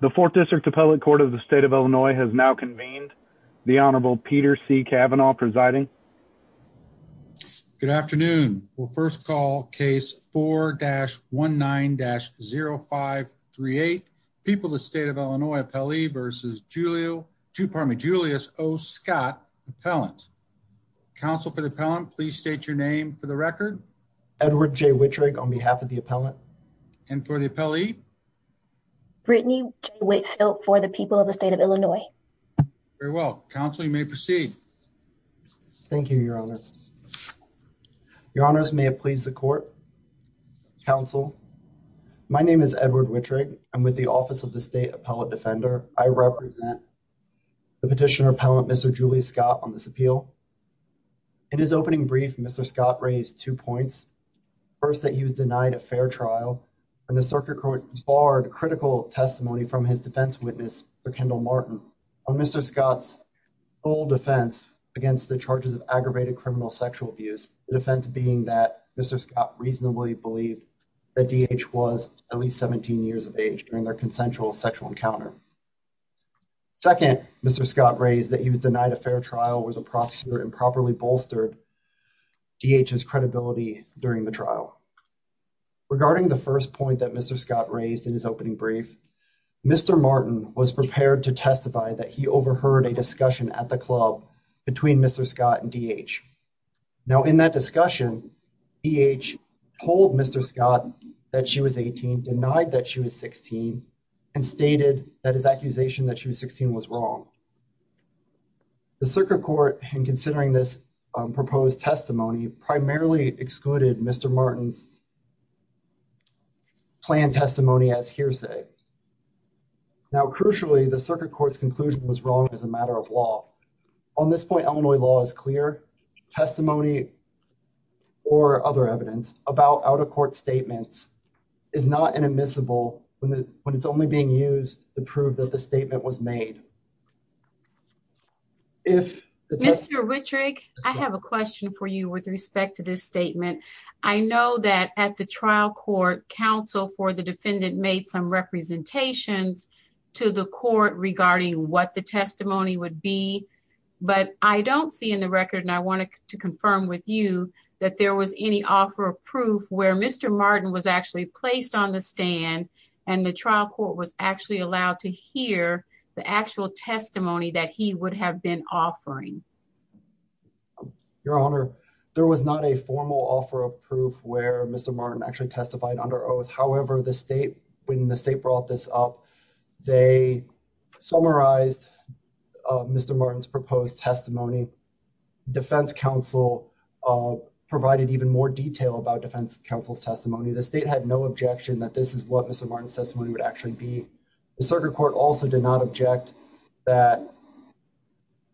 The fourth district appellate court of the state of Illinois has now convened the Honorable Peter C. Kavanaugh presiding. Good afternoon. We'll first call case 4-19-0538. People, the state of Illinois appellee versus Giulio, pardon me, Julius O. Scott appellant. Counsel for the appellant, please state your name for the record. Edward J. Wittrig on behalf of the appellant and for the appellee, Brittany, wait for the people of the state of Illinois. Very well. Counseling may proceed. Thank you, Your Honor. Your honors may have pleased the court counsel. My name is Edward Wittrig. I'm with the office of the state appellate defender. I represent the petitioner appellant Mr Julius Scott on this appeal. In his opening brief, Mr. Scott raised two points. First, that he was denied a fair trial and the circuit court barred critical testimony from his defense witness, Mr. Kendall Martin, on Mr. Scott's full defense against the charges of aggravated criminal sexual abuse, the defense being that Mr. Scott reasonably believed that DH was at least 17 years of age during their consensual sexual encounter. Second, Mr. Scott raised that he was denied a fair trial, was a prosecutor and properly bolstered DH's credibility during the trial. Regarding the first point that Mr. Scott raised in his opening brief, Mr. Martin was prepared to testify that he overheard a discussion at the club between Mr. Scott and DH. Now, in that discussion, DH told Mr. Scott that she was 18, denied that she was 16, and stated that his accusation that she was 16 was wrong. The circuit court, in considering this proposed testimony, primarily excluded Mr. Martin's planned testimony as hearsay. Now, crucially, the circuit court's conclusion was wrong as a matter of law. On this point, Illinois law is clear. Testimony or other evidence about out-of-court statements is not inadmissible when it's only being used to prove that the statement was made. Mr. Rittrig, I have a question for you with respect to this statement. I know that at the trial court, counsel for the defendant made some representations to the court regarding what the testimony would be, but I don't see in the record, and I wanted to confirm with you, that there was any offer of proof where Mr. Martin was actually placed on the stand and the trial court was actually allowed to hear the actual testimony that he would have been offering? Your Honor, there was not a formal offer of proof where Mr. Martin actually testified under oath. However, the state, when the state brought this up, they summarized Mr. Martin's proposed testimony. Defense counsel provided even more detail about defense counsel's testimony. The state had no objection that this is what Mr. Martin's testimony would actually be. The circuit court also did not object that,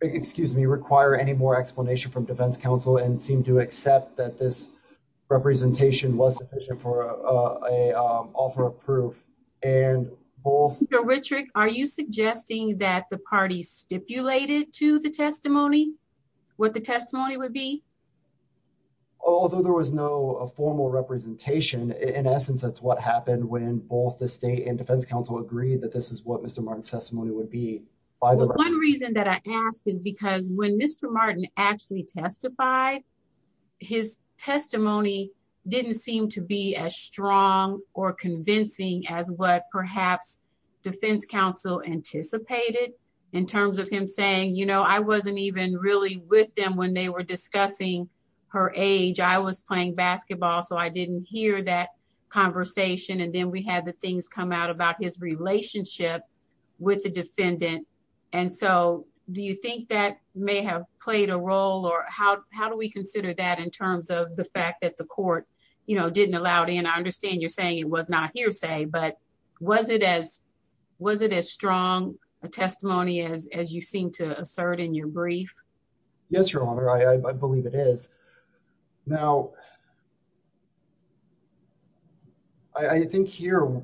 excuse me, require any more explanation from defense counsel and seem to accept that this representation was sufficient for an offer of proof. Mr. Rittrig, are you suggesting that the party stipulated to the testimony what the testimony would be? Although there was no formal representation, in essence, that's what happened when both the state and defense counsel agreed that this is what Mr. Martin's testimony would be. One reason that I ask is because when Mr. Martin actually testified, his testimony didn't seem to be as strong or convincing as what perhaps defense counsel anticipated in terms of him saying, you know, I wasn't even really with them when they were discussing her age. I was playing basketball, so I didn't hear that conversation. And then we had the things come out about his relationship with the defendant. And so do you think that may have played a role or how, how do we consider that in terms of the fact that the court, you know, didn't allow it in? I understand you're saying it was not hearsay, but was it as, was it as strong a testimony as, as you seem to assert in your brief? Yes, Your Honor. I believe it is. Now, I think here,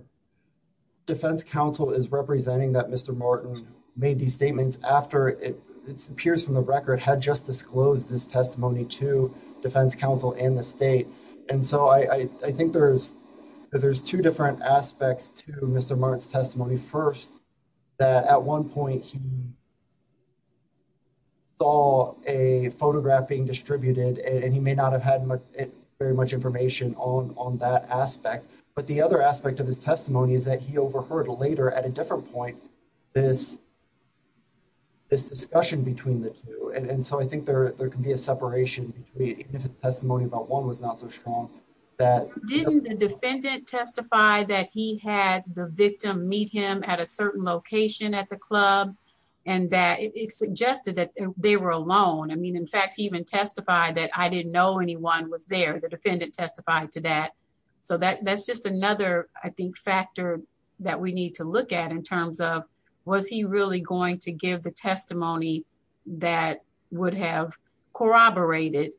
defense counsel is representing that Mr. Martin made these statements after it appears from the record had just disclosed this testimony to defense counsel and the state. And so I think there's, there's two different aspects to Mr. Martin's testimony. First, that at one point he saw a photograph being distributed and he may not have had very much information on, on that aspect. But the other aspect of his testimony is that he overheard later at a different point, this, this discussion between the two. And so I think there, there can be a separation between the testimony about one was not so strong. Didn't the defendant testify that he had the victim meet him at a certain location at the club and that it suggested that they were alone. I mean, in fact, he even testified that I didn't know anyone was there. The defendant testified to that. So that, that's just another, I think, factor that we need to look at in going to give the testimony that would have corroborated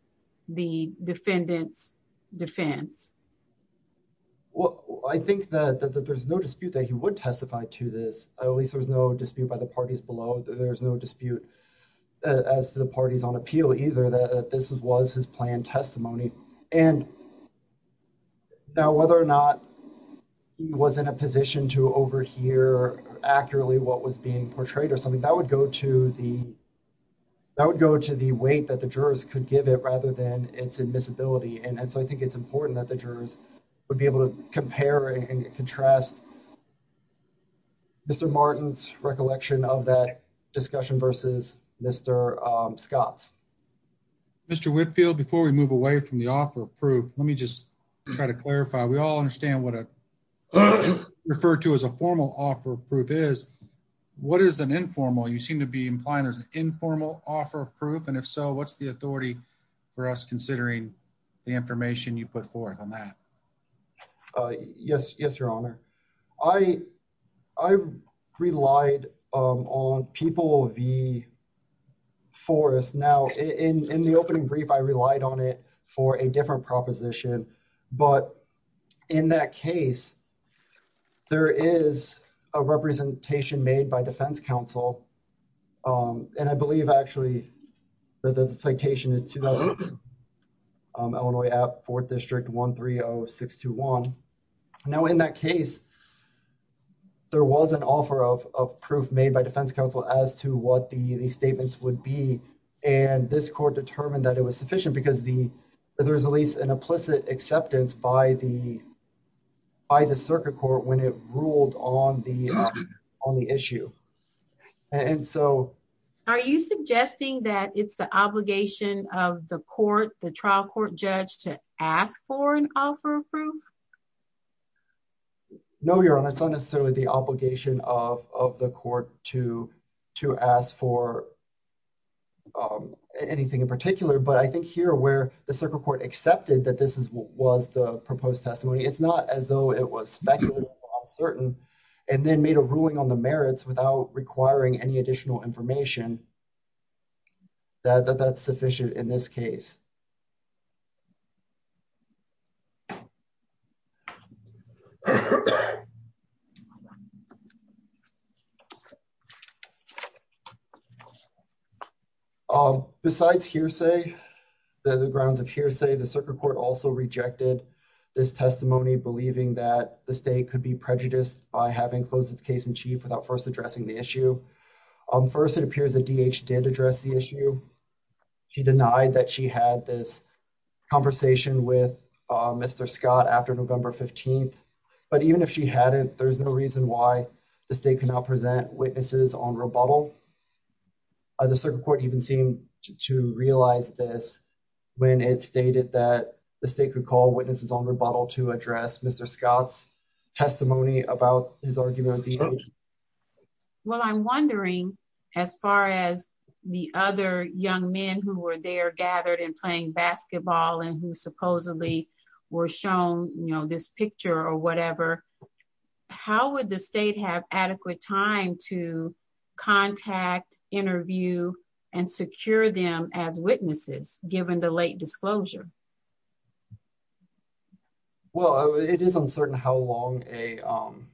the defendant's defense. Well, I think that there's no dispute that he would testify to this. At least there was no dispute by the parties below. There's no dispute as to the parties on appeal either, that this was his planned testimony. And now whether or not he was in a position to overhear accurately what was being portrayed or something that would go to the, that would go to the weight that the jurors could give it rather than its admissibility. And so I think it's important that the jurors would be able to compare and contrast Mr. Martin's recollection of that discussion versus Mr. Scott's. Mr. Whitfield, before we move away from the offer of proof, let me just try to clarify. We all understand what a referred to as a formal offer of proof is, what is an informal? You seem to be implying there's an informal offer of proof. And if so, what's the authority for us considering the information you put forth on that? Uh, yes, yes, your honor. I, I relied on people, the forest now in, in the opening brief, I relied on it for a different proposition. But in that case, there is a representation made by defense council. Um, and I believe actually that the citation is, um, Illinois app fourth district one three Oh six to one. Now in that case, there was an offer of, of proof made by defense council as to what the statements would be. And this court determined that it was sufficient because the, there was at least an implicit acceptance by the, by the circuit court when it ruled on the, on the issue. And so are you suggesting that it's the obligation of the court, the trial court judge to ask for an offer of proof? No, your honor. It's not necessarily the obligation of, of the court to, to ask for, um, anything in particular, but I think here where the circuit court accepted that this is what was the proposed testimony, it's not as though it was speculative, uncertain, and then made a ruling on the merits without requiring any additional information that that's sufficient in this case. Um, besides hearsay, the grounds of hearsay, the circuit court also rejected this testimony, believing that the state could be prejudiced by having closed its case in chief without first addressing the issue. Um, first it appears that DH did address the issue. She denied that she had this conversation with Mr. Scott after November 15th. But even if she hadn't, there's no reason why the state cannot present witnesses on rebuttal. The circuit court even seemed to realize this when it stated that the state could call witnesses on rebuttal to address Mr. Scott's testimony about his argument. Well, I'm wondering as far as the other young men who were there gathered and playing basketball and who supposedly were shown, you know, this picture or whatever, how would the state have adequate time to contact, interview, and secure them as witnesses given the late disclosure? Well, it is uncertain how long a, um,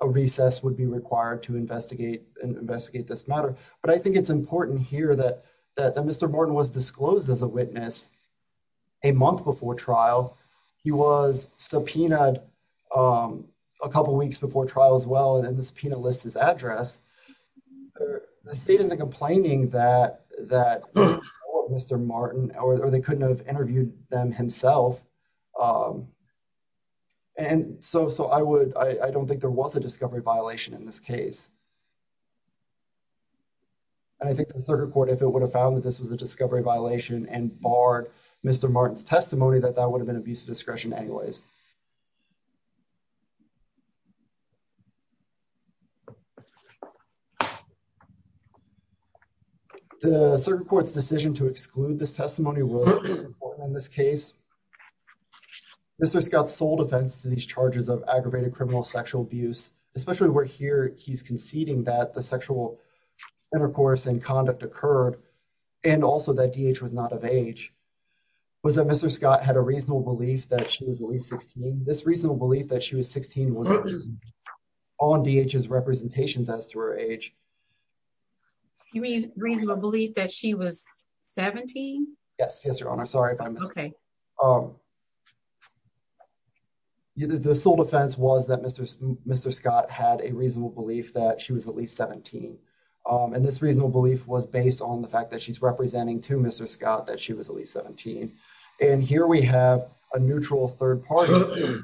a recess would be required to investigate and investigate this matter. But I think it's important here that, that Mr. Martin was disclosed as a witness a month before trial. He was subpoenaed, um, a couple weeks before trial as well. And then the subpoena lists his address. The state isn't complaining that, that Mr. Martin or they couldn't have interviewed them himself. And so, so I would, I don't think there was a discovery violation in this case. And I think the circuit court, if it would have found that this was a discovery violation and barred Mr. Martin's testimony, that that would have been abuse of discretion anyways. The circuit court's decision to exclude this testimony was important in this case. Mr. Scott's sole defense to these charges of aggravated criminal sexual abuse, especially where here he's conceding that the sexual intercourse and conduct occurred and also that DH was not of age, was that Mr. Scott had a reasonable belief that she was at least 16. This reasonable belief that she was 16 was on DH's representations as to her age. You mean reasonable belief that she was 17? Yes. Yes, Your Honor. Sorry if I missed. Okay. The sole defense was that Mr. Scott had a reasonable belief that she was at least 17. And this reasonable belief was based on the fact that she's representing to Mr. Scott that she was at least 17. And here we have a neutral third party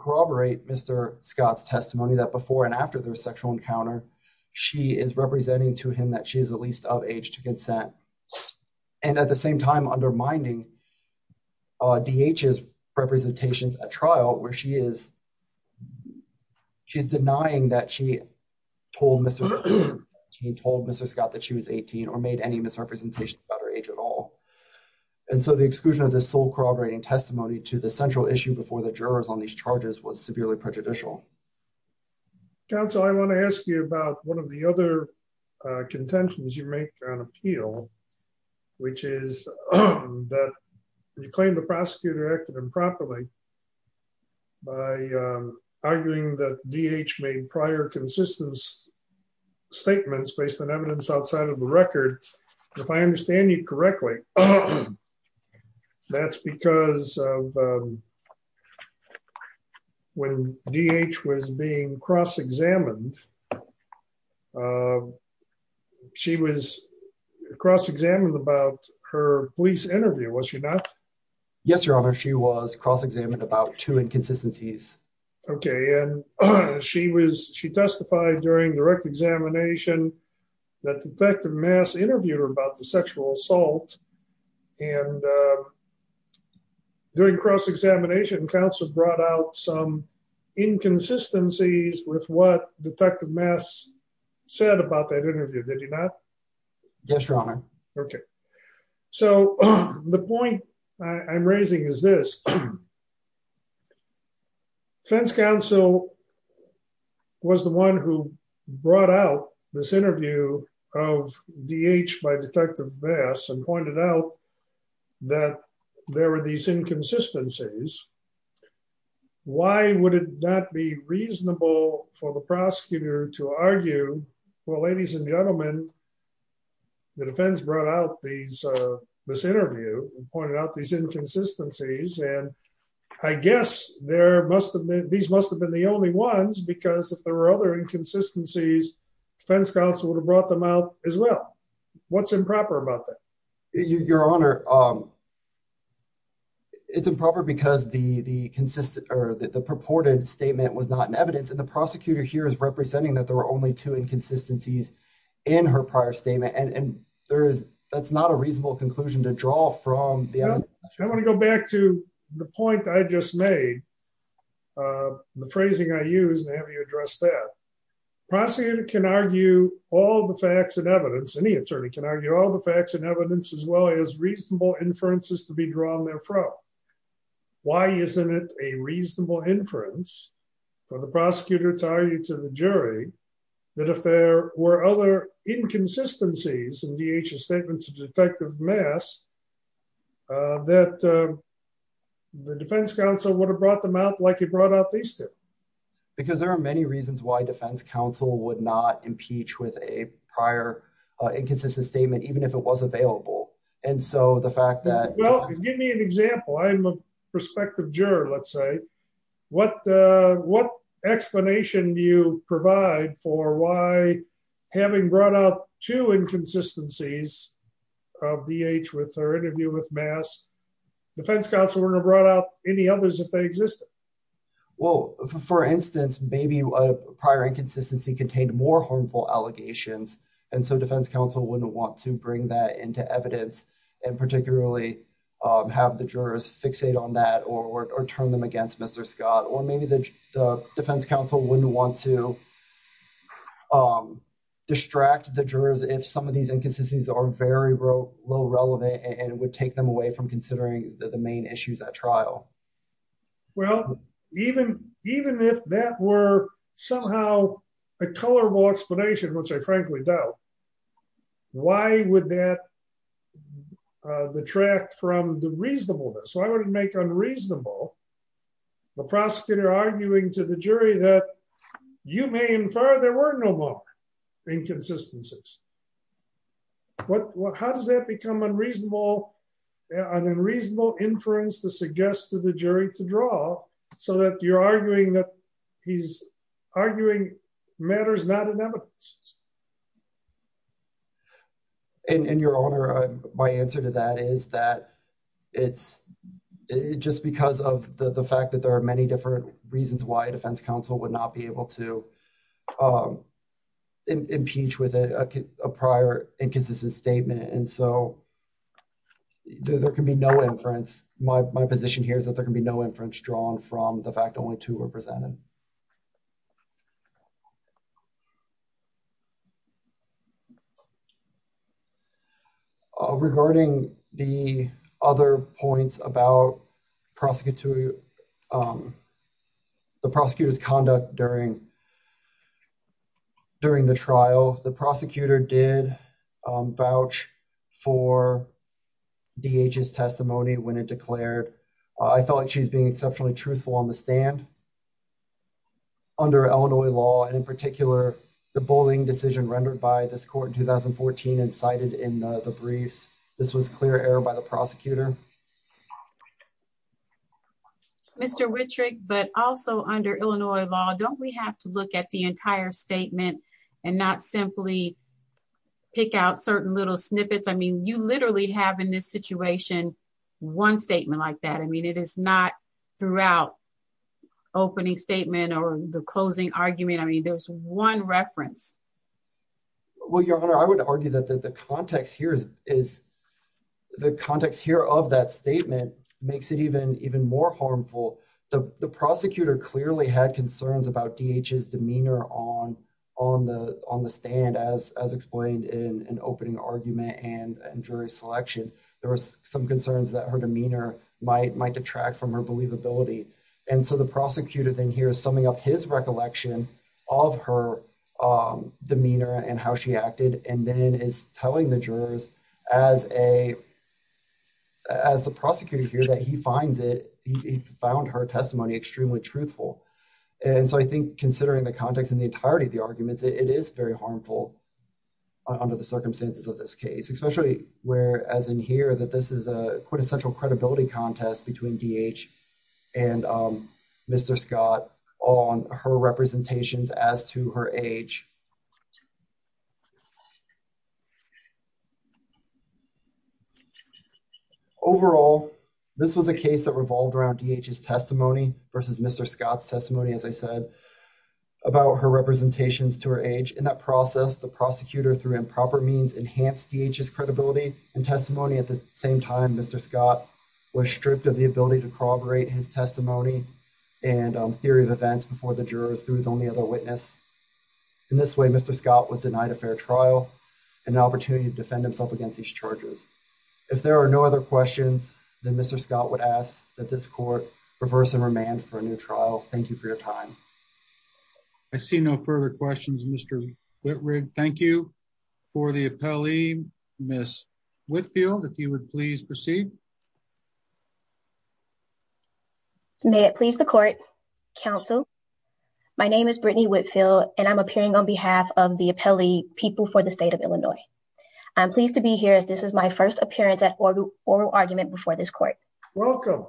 corroborate Mr. Scott's testimony that before and after their sexual encounter, she is representing to him that she is at least of age to consent. And at the same time undermining DH's representations at trial where she is denying that she told Mr. Scott that she was 18 or made any misrepresentation about her age at all. And so the exclusion of this sole corroborating testimony to the central issue before the jurors on these charges was severely prejudicial. Counsel, I want to ask you about one of the other contentions you make on appeal, which is that you claim the prosecutor acted improperly by arguing that DH made prior consistent statements based on evidence outside of the record. If I understand you correctly, that's because of when DH was being cross examined. She was cross examined about her police interview, was she not? Yes, your honor. She was cross examined about two inconsistencies. Okay. And she was, she testified during direct examination, that detective mass interviewed her about the sexual assault and during cross examination, counsel brought out some inconsistencies with what detective mass said about that interview. Did he not? Yes, your honor. Okay. So the point I'm raising is this defense counsel was the one who brought out this interview of DH by detective mass and pointed out that there were these inconsistencies. Why would it not be reasonable for the prosecutor to argue? Well, ladies and gentlemen, the defense brought out these, this interview and pointed out these there must've been, these must've been the only ones because if there were other inconsistencies, defense counsel would have brought them out as well. What's improper about that? Your honor. It's improper because the, the consistent or the purported statement was not in evidence. And the prosecutor here is representing that there were only two inconsistencies in her prior statement. And there is, that's not a reasonable conclusion to draw from. I want to go back to the point I just made, uh, the phrasing I use and have you address that prosecutor can argue all the facts and evidence. Any attorney can argue all the facts and evidence as well as reasonable inferences to be drawn there from why isn't it a reasonable inference for the prosecutor to argue to the jury that if there were other inconsistencies in DHS statements of detective mass, uh, that, uh, the defense counsel would have brought them out like he brought out these two. Because there are many reasons why defense counsel would not impeach with a prior inconsistent statement, even if it was available. And so the fact that, well, give me an example. I'm a prospective juror. Let's say what, uh, explanation do you provide for why having brought up two inconsistencies of the age with her interview with mass defense counsel, we're going to brought up any others if they exist. Well, for instance, maybe a prior inconsistency contained more harmful allegations. And so defense counsel wouldn't want to bring that into evidence and particularly, um, have the jurors fixate on that or, or turn them against Mr. Scott, or maybe the defense counsel wouldn't want to, um, distract the jurors. If some of these inconsistencies are very low relevant and it would take them away from considering the main issues at trial. Well, even, even if that were somehow a colorable explanation, which I frankly doubt, why would that, uh, the track from the reasonableness? Why would it make unreasonable the prosecutor arguing to the jury that you may infer there were no more inconsistencies? What, how does that become unreasonable? An unreasonable inference to suggest to the jury to draw so that you're arguing that he's arguing matters not in evidence. And, and your honor, my answer to that is that it's just because of the fact that there are many different reasons why defense counsel would not be able to, um, impeach with a prior inconsistent statement. And so there can be no inference. My position here is that there are. Uh, regarding the other points about prosecutorial, um, the prosecutor's conduct during, during the trial, the prosecutor did, um, vouch for DHS testimony when it declared, I felt like she's being exceptionally truthful on the stand under Illinois law. And in particular, the bullying decision rendered by this court in 2014 and cited in the briefs, this was clear error by the prosecutor. Mr. Whitrick, but also under Illinois law, don't we have to look at the entire statement and not simply pick out certain little snippets? I mean, you literally have in this situation, one statement like that. I mean, it is not throughout opening statement or the closing argument. I mean, there's one reference. Well, your honor, I would argue that, that the context here is, is the context here of that statement makes it even, even more harmful. The prosecutor clearly had concerns about DHS demeanor on, on the, on the stand as, as explained in an opening argument and jury selection, there was some concerns that her demeanor might, might detract from her believability. And so the prosecutor then here is summing up his recollection of her, um, demeanor and how she acted, and then is telling the jurors as a, as a prosecutor here that he finds it, he found her testimony extremely truthful. And so I think considering the context and the entirety of the arguments, it is very harmful under the circumstances of this case, especially where, as in here, that this is a quintessential credibility contest between DH and, um, Mr. Scott on her representations as to her age. Overall, this was a case that revolved around DH's testimony versus Mr. Scott's testimony, as I said, about her representations to her age. In that process, the prosecutor through improper means enhanced DH's credibility and testimony. At the same time, Mr. Scott was stripped of the ability to corroborate his testimony and, um, theory of events before the jurors through his only other witness. In this way, Mr. Scott was denied a fair trial and an opportunity to defend himself against these charges. If there are no other questions, then Mr. Scott would ask that this court reverse and remand for a new trial. Thank you for the appellee, Ms. Whitfield, if you would please proceed. May it please the court, counsel. My name is Brittany Whitfield, and I'm appearing on behalf of the appellee people for the state of Illinois. I'm pleased to be here as this is my first appearance at oral argument before this court. Welcome.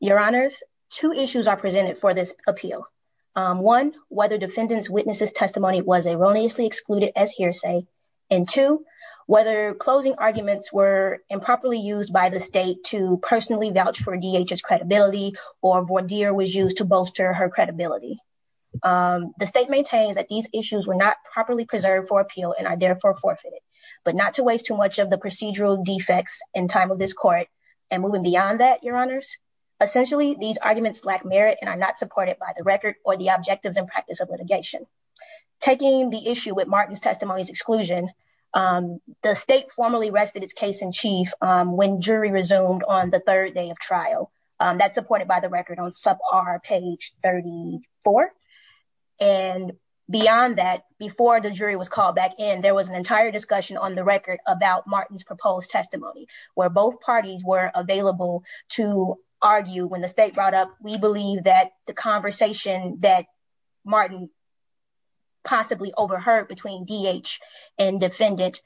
Your honors, two issues are presented for this appeal. Um, one, whether defendants witnesses testimony was erroneously excluded as hearsay and two, whether closing arguments were improperly used by the state to personally vouch for DH's credibility or voir dire was used to bolster her credibility. Um, the state maintains that these issues were not properly preserved for appeal and are therefore forfeited, but not to waste too much of the procedural defects in time of this court and moving beyond that, your honors. Essentially, these arguments lack merit and I'm not supported by the record or the objectives and practice of litigation. Taking the issue with Martin's testimonies exclusion. Um, the state formally rested its case in chief when jury resumed on the third day of trial that supported by the record on sub R page 34. And beyond that, before the jury was called back in, there was an entire discussion on the record about Martin's proposed testimony, where both parties were available to argue when the state brought up. We believe that the conversation that Martin possibly overheard between DH and defendant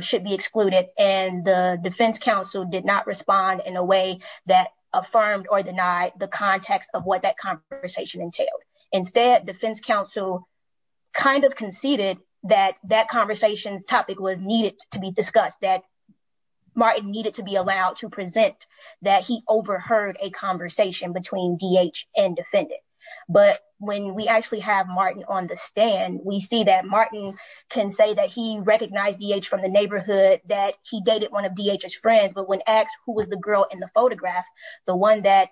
should be excluded. And the defense counsel did not respond in a way that affirmed or denied the context of what that conversation entailed. Instead, defense counsel kind of conceded that that conversation topic was needed to be discussed, that Martin needed to be allowed to present that he overheard a conversation between DH and defendant. But when we actually have Martin on the stand, we see that Martin can say that he recognized DH from the neighborhood, that he dated one of DH's friends. But when asked who was the girl in the photograph, the one that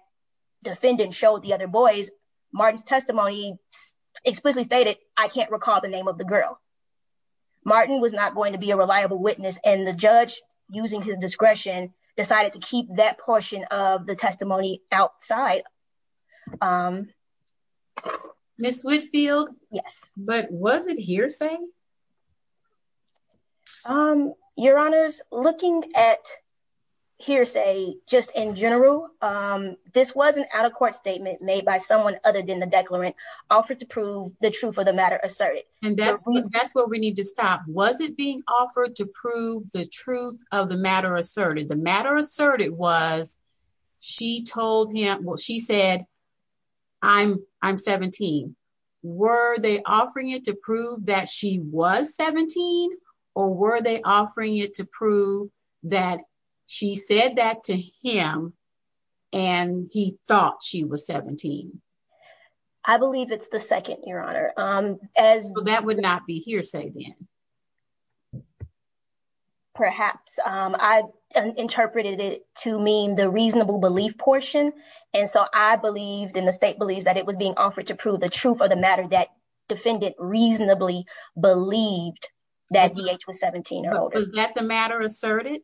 defendant showed the other boys, Martin's testimony explicitly stated, I can't recall the name of the girl. Martin was not going to be a reliable witness. And the judge, using his discretion, decided to keep that portion of the testimony outside. Ms. Whitfield? Yes. But was it hearsay? Your honors, looking at hearsay, just in general, this was an out of court statement made by someone other than the declarant offered to prove the truth of the matter asserted. And that's what we need to stop. Was it being offered to prove the truth of the matter asserted? The matter asserted was, she told him, she said, I'm 17. Were they offering it to prove that she was 17? Or were they offering it to prove that she said that to him, and he thought she was 17? I believe it's the second, your honor. That would not be hearsay then? Perhaps. I interpreted it to mean the reasonable belief portion. And so I believed, and the state believes, that it was being offered to prove the truth of the matter that defendant reasonably believed that DH was 17 years old. Was that the matter asserted?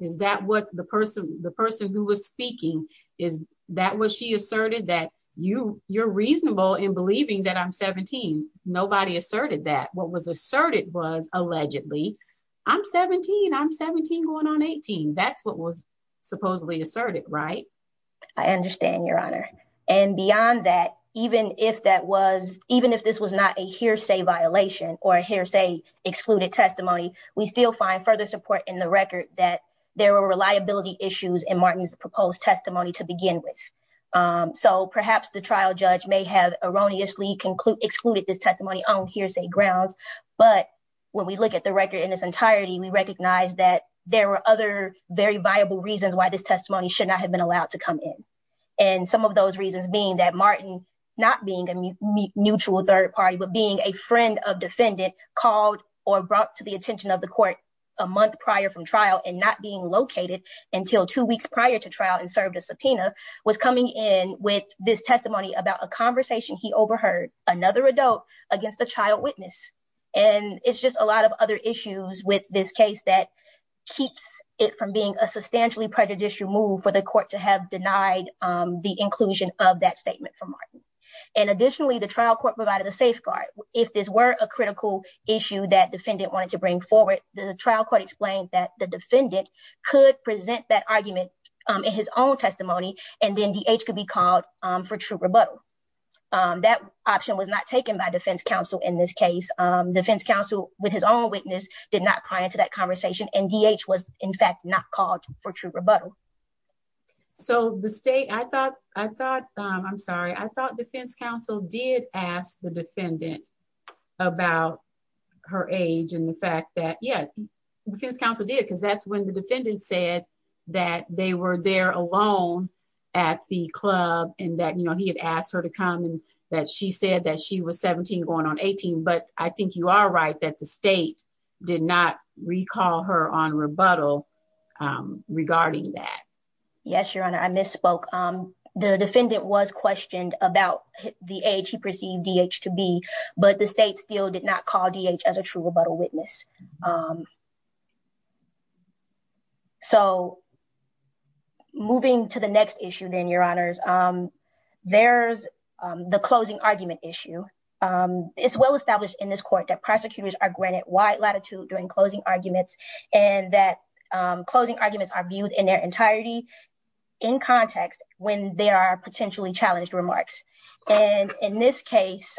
Is that what the person who was speaking, is that what she asserted, that you're reasonable in believing that I'm 17? Nobody asserted that. What was asserted was, allegedly, I'm 17. I'm 17 going on 18. That's what was supposedly asserted, right? I understand, your honor. And beyond that, even if that was, even if this was not a hearsay violation or a hearsay excluded testimony, we still find further support in the record that there were reliability issues in Martin's proposed testimony to begin with. So perhaps the trial judge may have erroneously excluded this testimony on hearsay grounds. But when we look at the record in its entirety, we recognize that there were other very viable reasons why this testimony should not have been allowed to come in. And some of those reasons being that Martin, not being a mutual third party, but being a friend of defendant, called or brought to the attention of the court a month prior from trial and not being located until two weeks prior to trial and served a subpoena, was coming in with this testimony about a conversation he overheard, another adult, against a child witness. And it's just a lot of other issues with this case that keeps it from being a substantially prejudicial move for the court to have denied the inclusion of that statement from Martin. And additionally, the trial court provided a safeguard. If this were a critical issue that defendant wanted to bring forward, the trial court explained that the defendant could present that argument in his own testimony, and then DH could be called for true rebuttal. That option was not taken by defense counsel in this case. Defense counsel, with his own witness, did not pry into that conversation, and DH was, in fact, not called for true rebuttal. So the state, I thought, I thought, I'm sorry, I thought defense counsel did ask the defendant about her age and the fact that, yeah, defense counsel did, because that's when the defendant said that they were there alone at the club and that, you know, he had asked her to come and that she said that she was 17 going on 18. But I think you are right that the state did not recall her on rebuttal regarding that. Yes, Your Honor, I misspoke. The defendant was questioned about the age he perceived DH to be, but the state still did not call DH as a true rebuttal witness. So moving to the next issue then, Your Honors, there's the closing argument issue. It's well established in this court that prosecutors are granted wide latitude during closing arguments, and that closing arguments are viewed in their entirety in context when there are potentially challenged remarks. And in this case,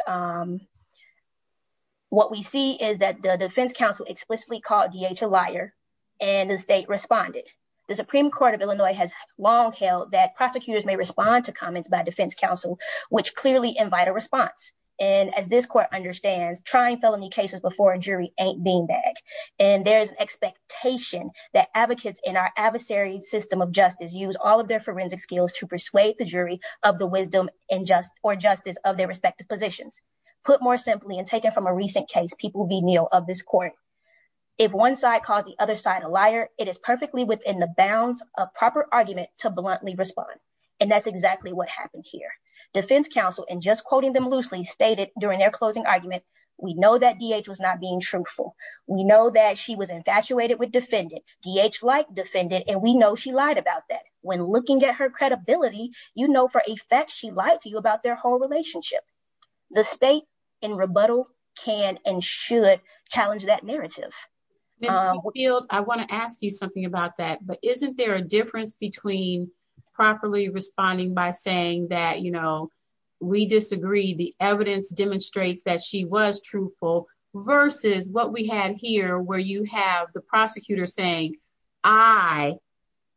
what we see is that the defense counsel explicitly called DH a liar, and the state responded. The Supreme Court of Illinois has long held that prosecutors may respond to comments by defense counsel, which clearly invite a response. And as this court understands, trying felony cases before jury ain't beanbag. And there's expectation that advocates in our adversary system of justice use all of their forensic skills to persuade the jury of the wisdom and just or justice of their respective positions. Put more simply and taken from a recent case, people will be kneel of this court. If one side called the other side a liar, it is perfectly within the bounds of proper argument to bluntly respond. And that's exactly what happened here. Defense counsel, and just quoting them loosely, stated during their closing argument, we know that DH was not being truthful. We know that she was infatuated with defendant. DH liked defendant, and we know she lied about that. When looking at her credibility, you know for a fact she lied to you about their whole relationship. The state in rebuttal can and should challenge that narrative. Ms. McField, I want to ask you something about that. But isn't there a difference between properly responding by saying that, you know, we disagree, the evidence demonstrates that she was truthful versus what we had here where you have the prosecutor saying, I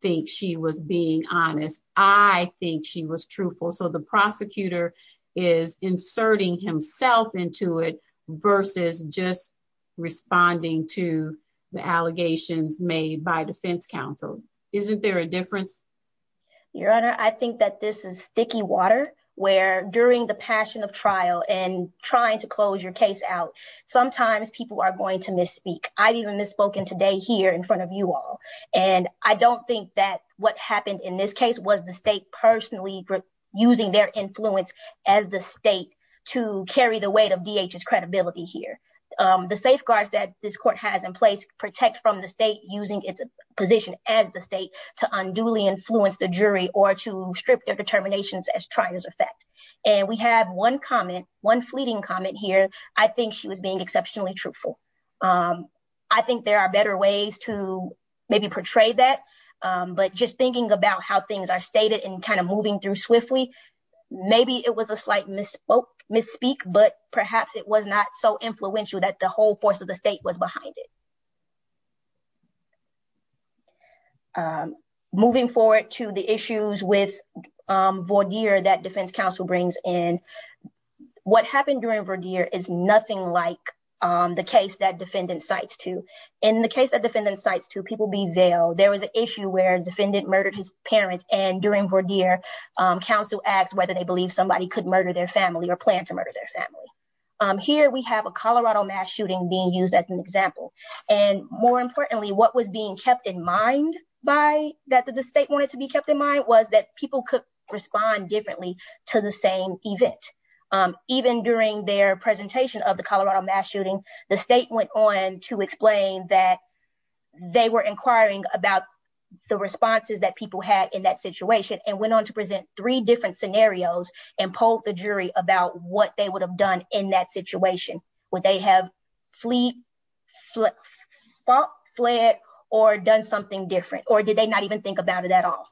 think she was being honest. I think she was truthful. So the prosecutor is inserting himself into it versus just responding to the allegations made by defense counsel. Isn't there a difference? Your Honor, I think that this is sticky water where during the passion of trial and trying to close your case out, sometimes people are going to misspeak. I've even misspoken today here in front of you all. And I don't think that what happened in this case was the state personally using their influence as the state to carry the weight of DH's credibility here. The safeguards that this court has in place protect from the state using its position as the state to unduly influence the jury or to strip their determinations as trier's effect. And we have one comment, one fleeting comment here. I think she was being exceptionally truthful. I think there are better ways to maybe portray that. But just thinking about how things are stated and kind of moving through swiftly, maybe it was a slight misspoke, misspeak, but perhaps it was not so influential that the whole force of the state was behind it. Moving forward to the issues with Vordeer that defense counsel brings in. What happened during Vordeer is nothing like the case that defendant cites to. In the case that defendant cites to, people being veiled, there was an issue where defendant murdered his parents. And during Vordeer, counsel asked whether they believe somebody could or plan to murder their family. Here we have a Colorado mass shooting being used as an example. And more importantly, what was being kept in mind by that the state wanted to be kept in mind was that people could respond differently to the same event. Even during their presentation of the Colorado mass shooting, the state went on to explain that they were inquiring about the responses that people had in that situation and went on to present three different scenarios and polled the jury about what they would have done in that situation. Would they have fleed, fought, fled, or done something different? Or did they not even think about it at all?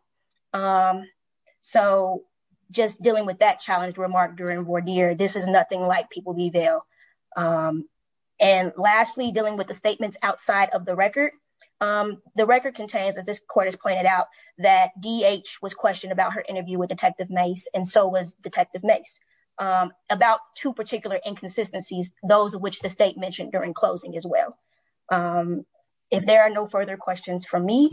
So just dealing with that challenge remark during Vordeer, this is nothing like people be veiled. And lastly, dealing with the statements outside of the record. The record contains, as this court has pointed out, that D.H. was questioned about her interview with Detective Mace and so was Detective Mace about two particular inconsistencies, those of which the state mentioned during closing as well. If there are no further questions from me,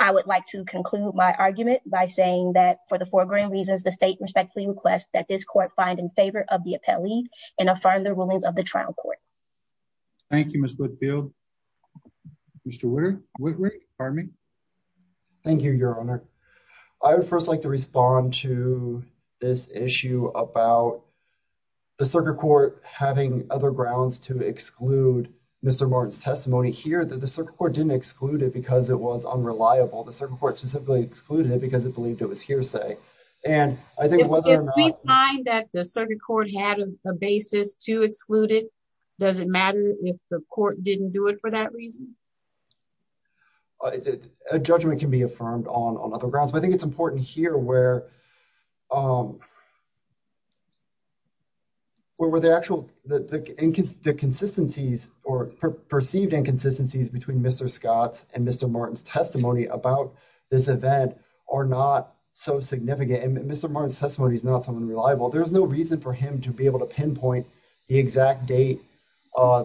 I would like to conclude my argument by saying that for the foregoing reasons, the state respectfully requests that this court find in favor of the appellee and affirm the rulings of the trial court. Thank you, Ms. Whitfield. Mr. Whitley, pardon me. Thank you, Your Honor. I would first like to respond to this issue about the circuit court having other grounds to exclude Mr. Martin's testimony here, that the circuit court didn't exclude it because it was unreliable. The circuit court specifically excluded it because it believed it was hearsay. If we find that the circuit court had a basis to exclude it, does it matter if the court didn't do it for that reason? A judgment can be affirmed on other grounds, but I think it's important here where the perceived inconsistencies between Mr. Scott's and Mr. Martin's testimony about this event are not so significant. Mr. Martin's testimony is not so unreliable. There's no reason for him to be able to pinpoint the exact date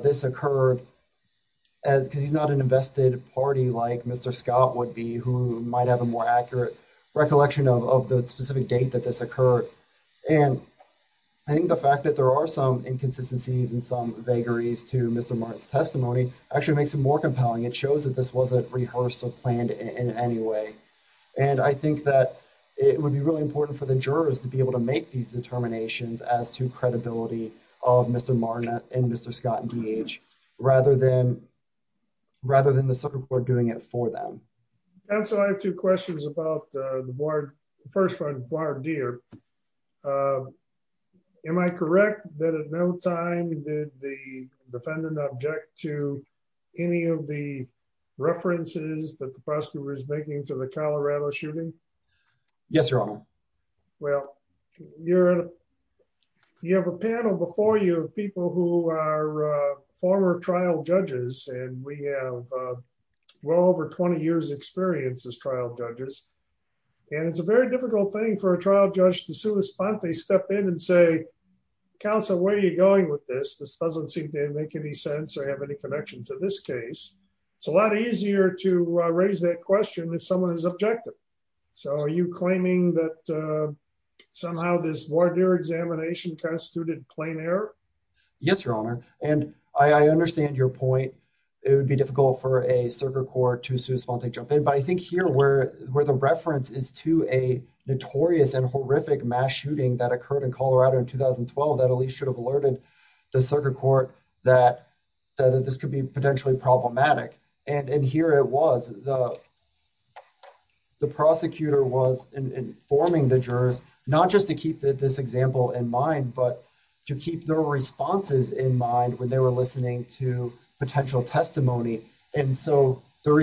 this occurred because he's not an invested party like Mr. Scott would be, who might have a more accurate recollection of the specific date that this occurred. I think the fact that there are some inconsistencies and some vagaries to Mr. Martin's testimony actually makes it more compelling. It shows that this wasn't rehearsed or planned in any way. I think that it would be really important for the jurors to be able to make these determinations as to credibility of Mr. Martin and Mr. Scott and D.H. rather than the circuit court doing it for them. I have two questions about the board. First, am I correct that at no time did the defendant object to any of the references that the jury provided? You have a panel before you of people who are former trial judges and we have well over 20 years experience as trial judges and it's a very difficult thing for a trial judge to sue a spot. They step in and say, counsel, where are you going with this? This doesn't seem to make any sense or have any connection to this case. It's a lot easier to raise that question if someone is objective. Are you claiming that somehow this voir dire examination constituted plain error? Yes, your honor. I understand your point. It would be difficult for a circuit court to sue a spot and jump in. I think here where the reference is to a notorious and horrific mass shooting that occurred in Colorado in 2012, that at least should have alerted the circuit court that this could be potentially problematic. Here it was. The prosecutor was informing the jurors, not just to keep this example in mind, but to keep their responses in mind when they were listening to potential testimony. And so the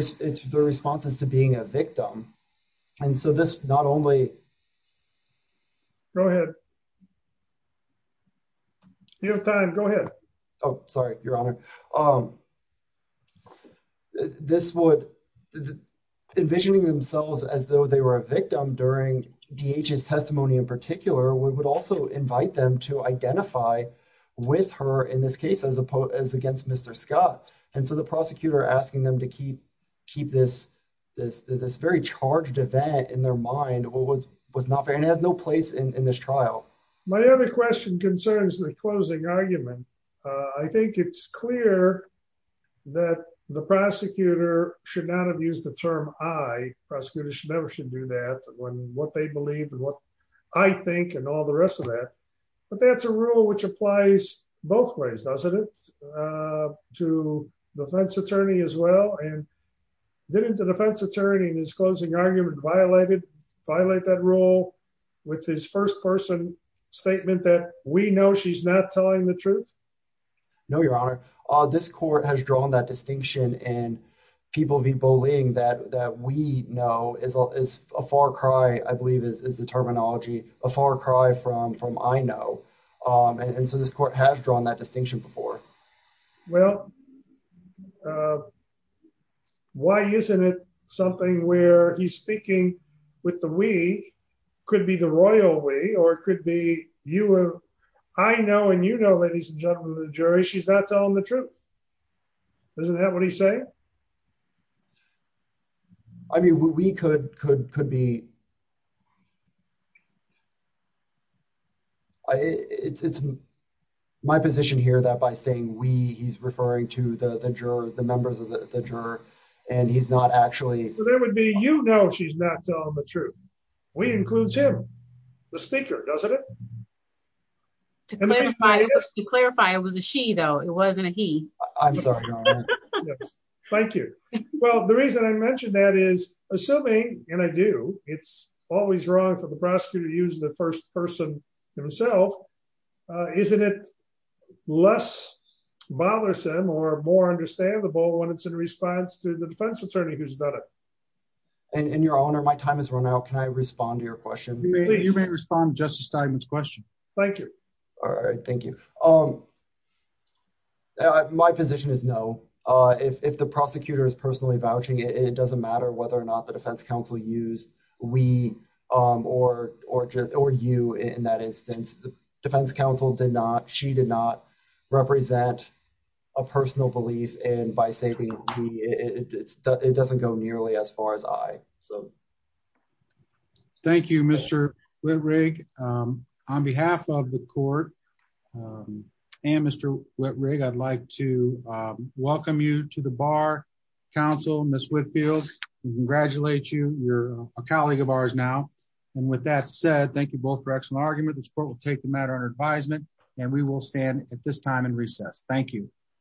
response is to being a victim. And so this not only... Go ahead. If you have time, go ahead. Oh, sorry, your honor. Envisioning themselves as though they were a victim during DH's testimony in particular, we would also invite them to identify with her in this case as against Mr. Scott. And so the prosecutor asking them to keep this very charged event in their mind was not fair and has no place in this trial. My other question concerns the closing argument. I think it's clear that the prosecutor should not have used the term I. Prosecutors should never should do that when what they believe and what I think and all the rest of that. But that's a rule which applies both ways, doesn't it? To defense attorney as well. And didn't the defense attorney in his closing argument violate that rule with his first person statement that we know she's not telling the truth? No, your honor. This court has drawn that distinction in people v. bullying that we know is a far cry, I believe is the terminology, a far cry from I know. And so this court has drawn that distinction before. Well. Why isn't it something where he's speaking with the week could be the royal way or could be you? I know and you know, ladies and gentlemen, the jury, she's not telling the truth. Isn't that what he's saying? I mean, we could could could be. I it's my position here that by saying we he's referring to the juror, the members of the juror, and he's not actually there would be, you know, she's not telling the truth. We includes him, the speaker, doesn't it? To clarify, it was a she though. It wasn't a he. I'm sorry. Thank you. Well, the reason I mentioned that is assuming and I do, it's always wrong for the prosecutor to use the first person himself. Isn't it less bothersome or more understandable when it's in response to the defense attorney who's done it? And your honor, my time has run out. Can I respond to your question? You may respond Justice Steinman's question. Thank you. All right. Thank you. Um, my position is no. If the prosecutor is personally vouching, it doesn't matter whether or not the defense counsel used we or or just or you. In that instance, the defense counsel did not. She did not represent a personal belief. And by saving, it doesn't go nearly as far as I so. Thank you, Mr. Wittrig. On behalf of the court and Mr. Wittrig, I'd like to welcome you to the bar. Council Miss Whitfield congratulate you. You're a colleague of ours now. And with that said, thank you both for excellent argument. The sport will take the matter on advisement and we will stand at this time and recess. Thank you.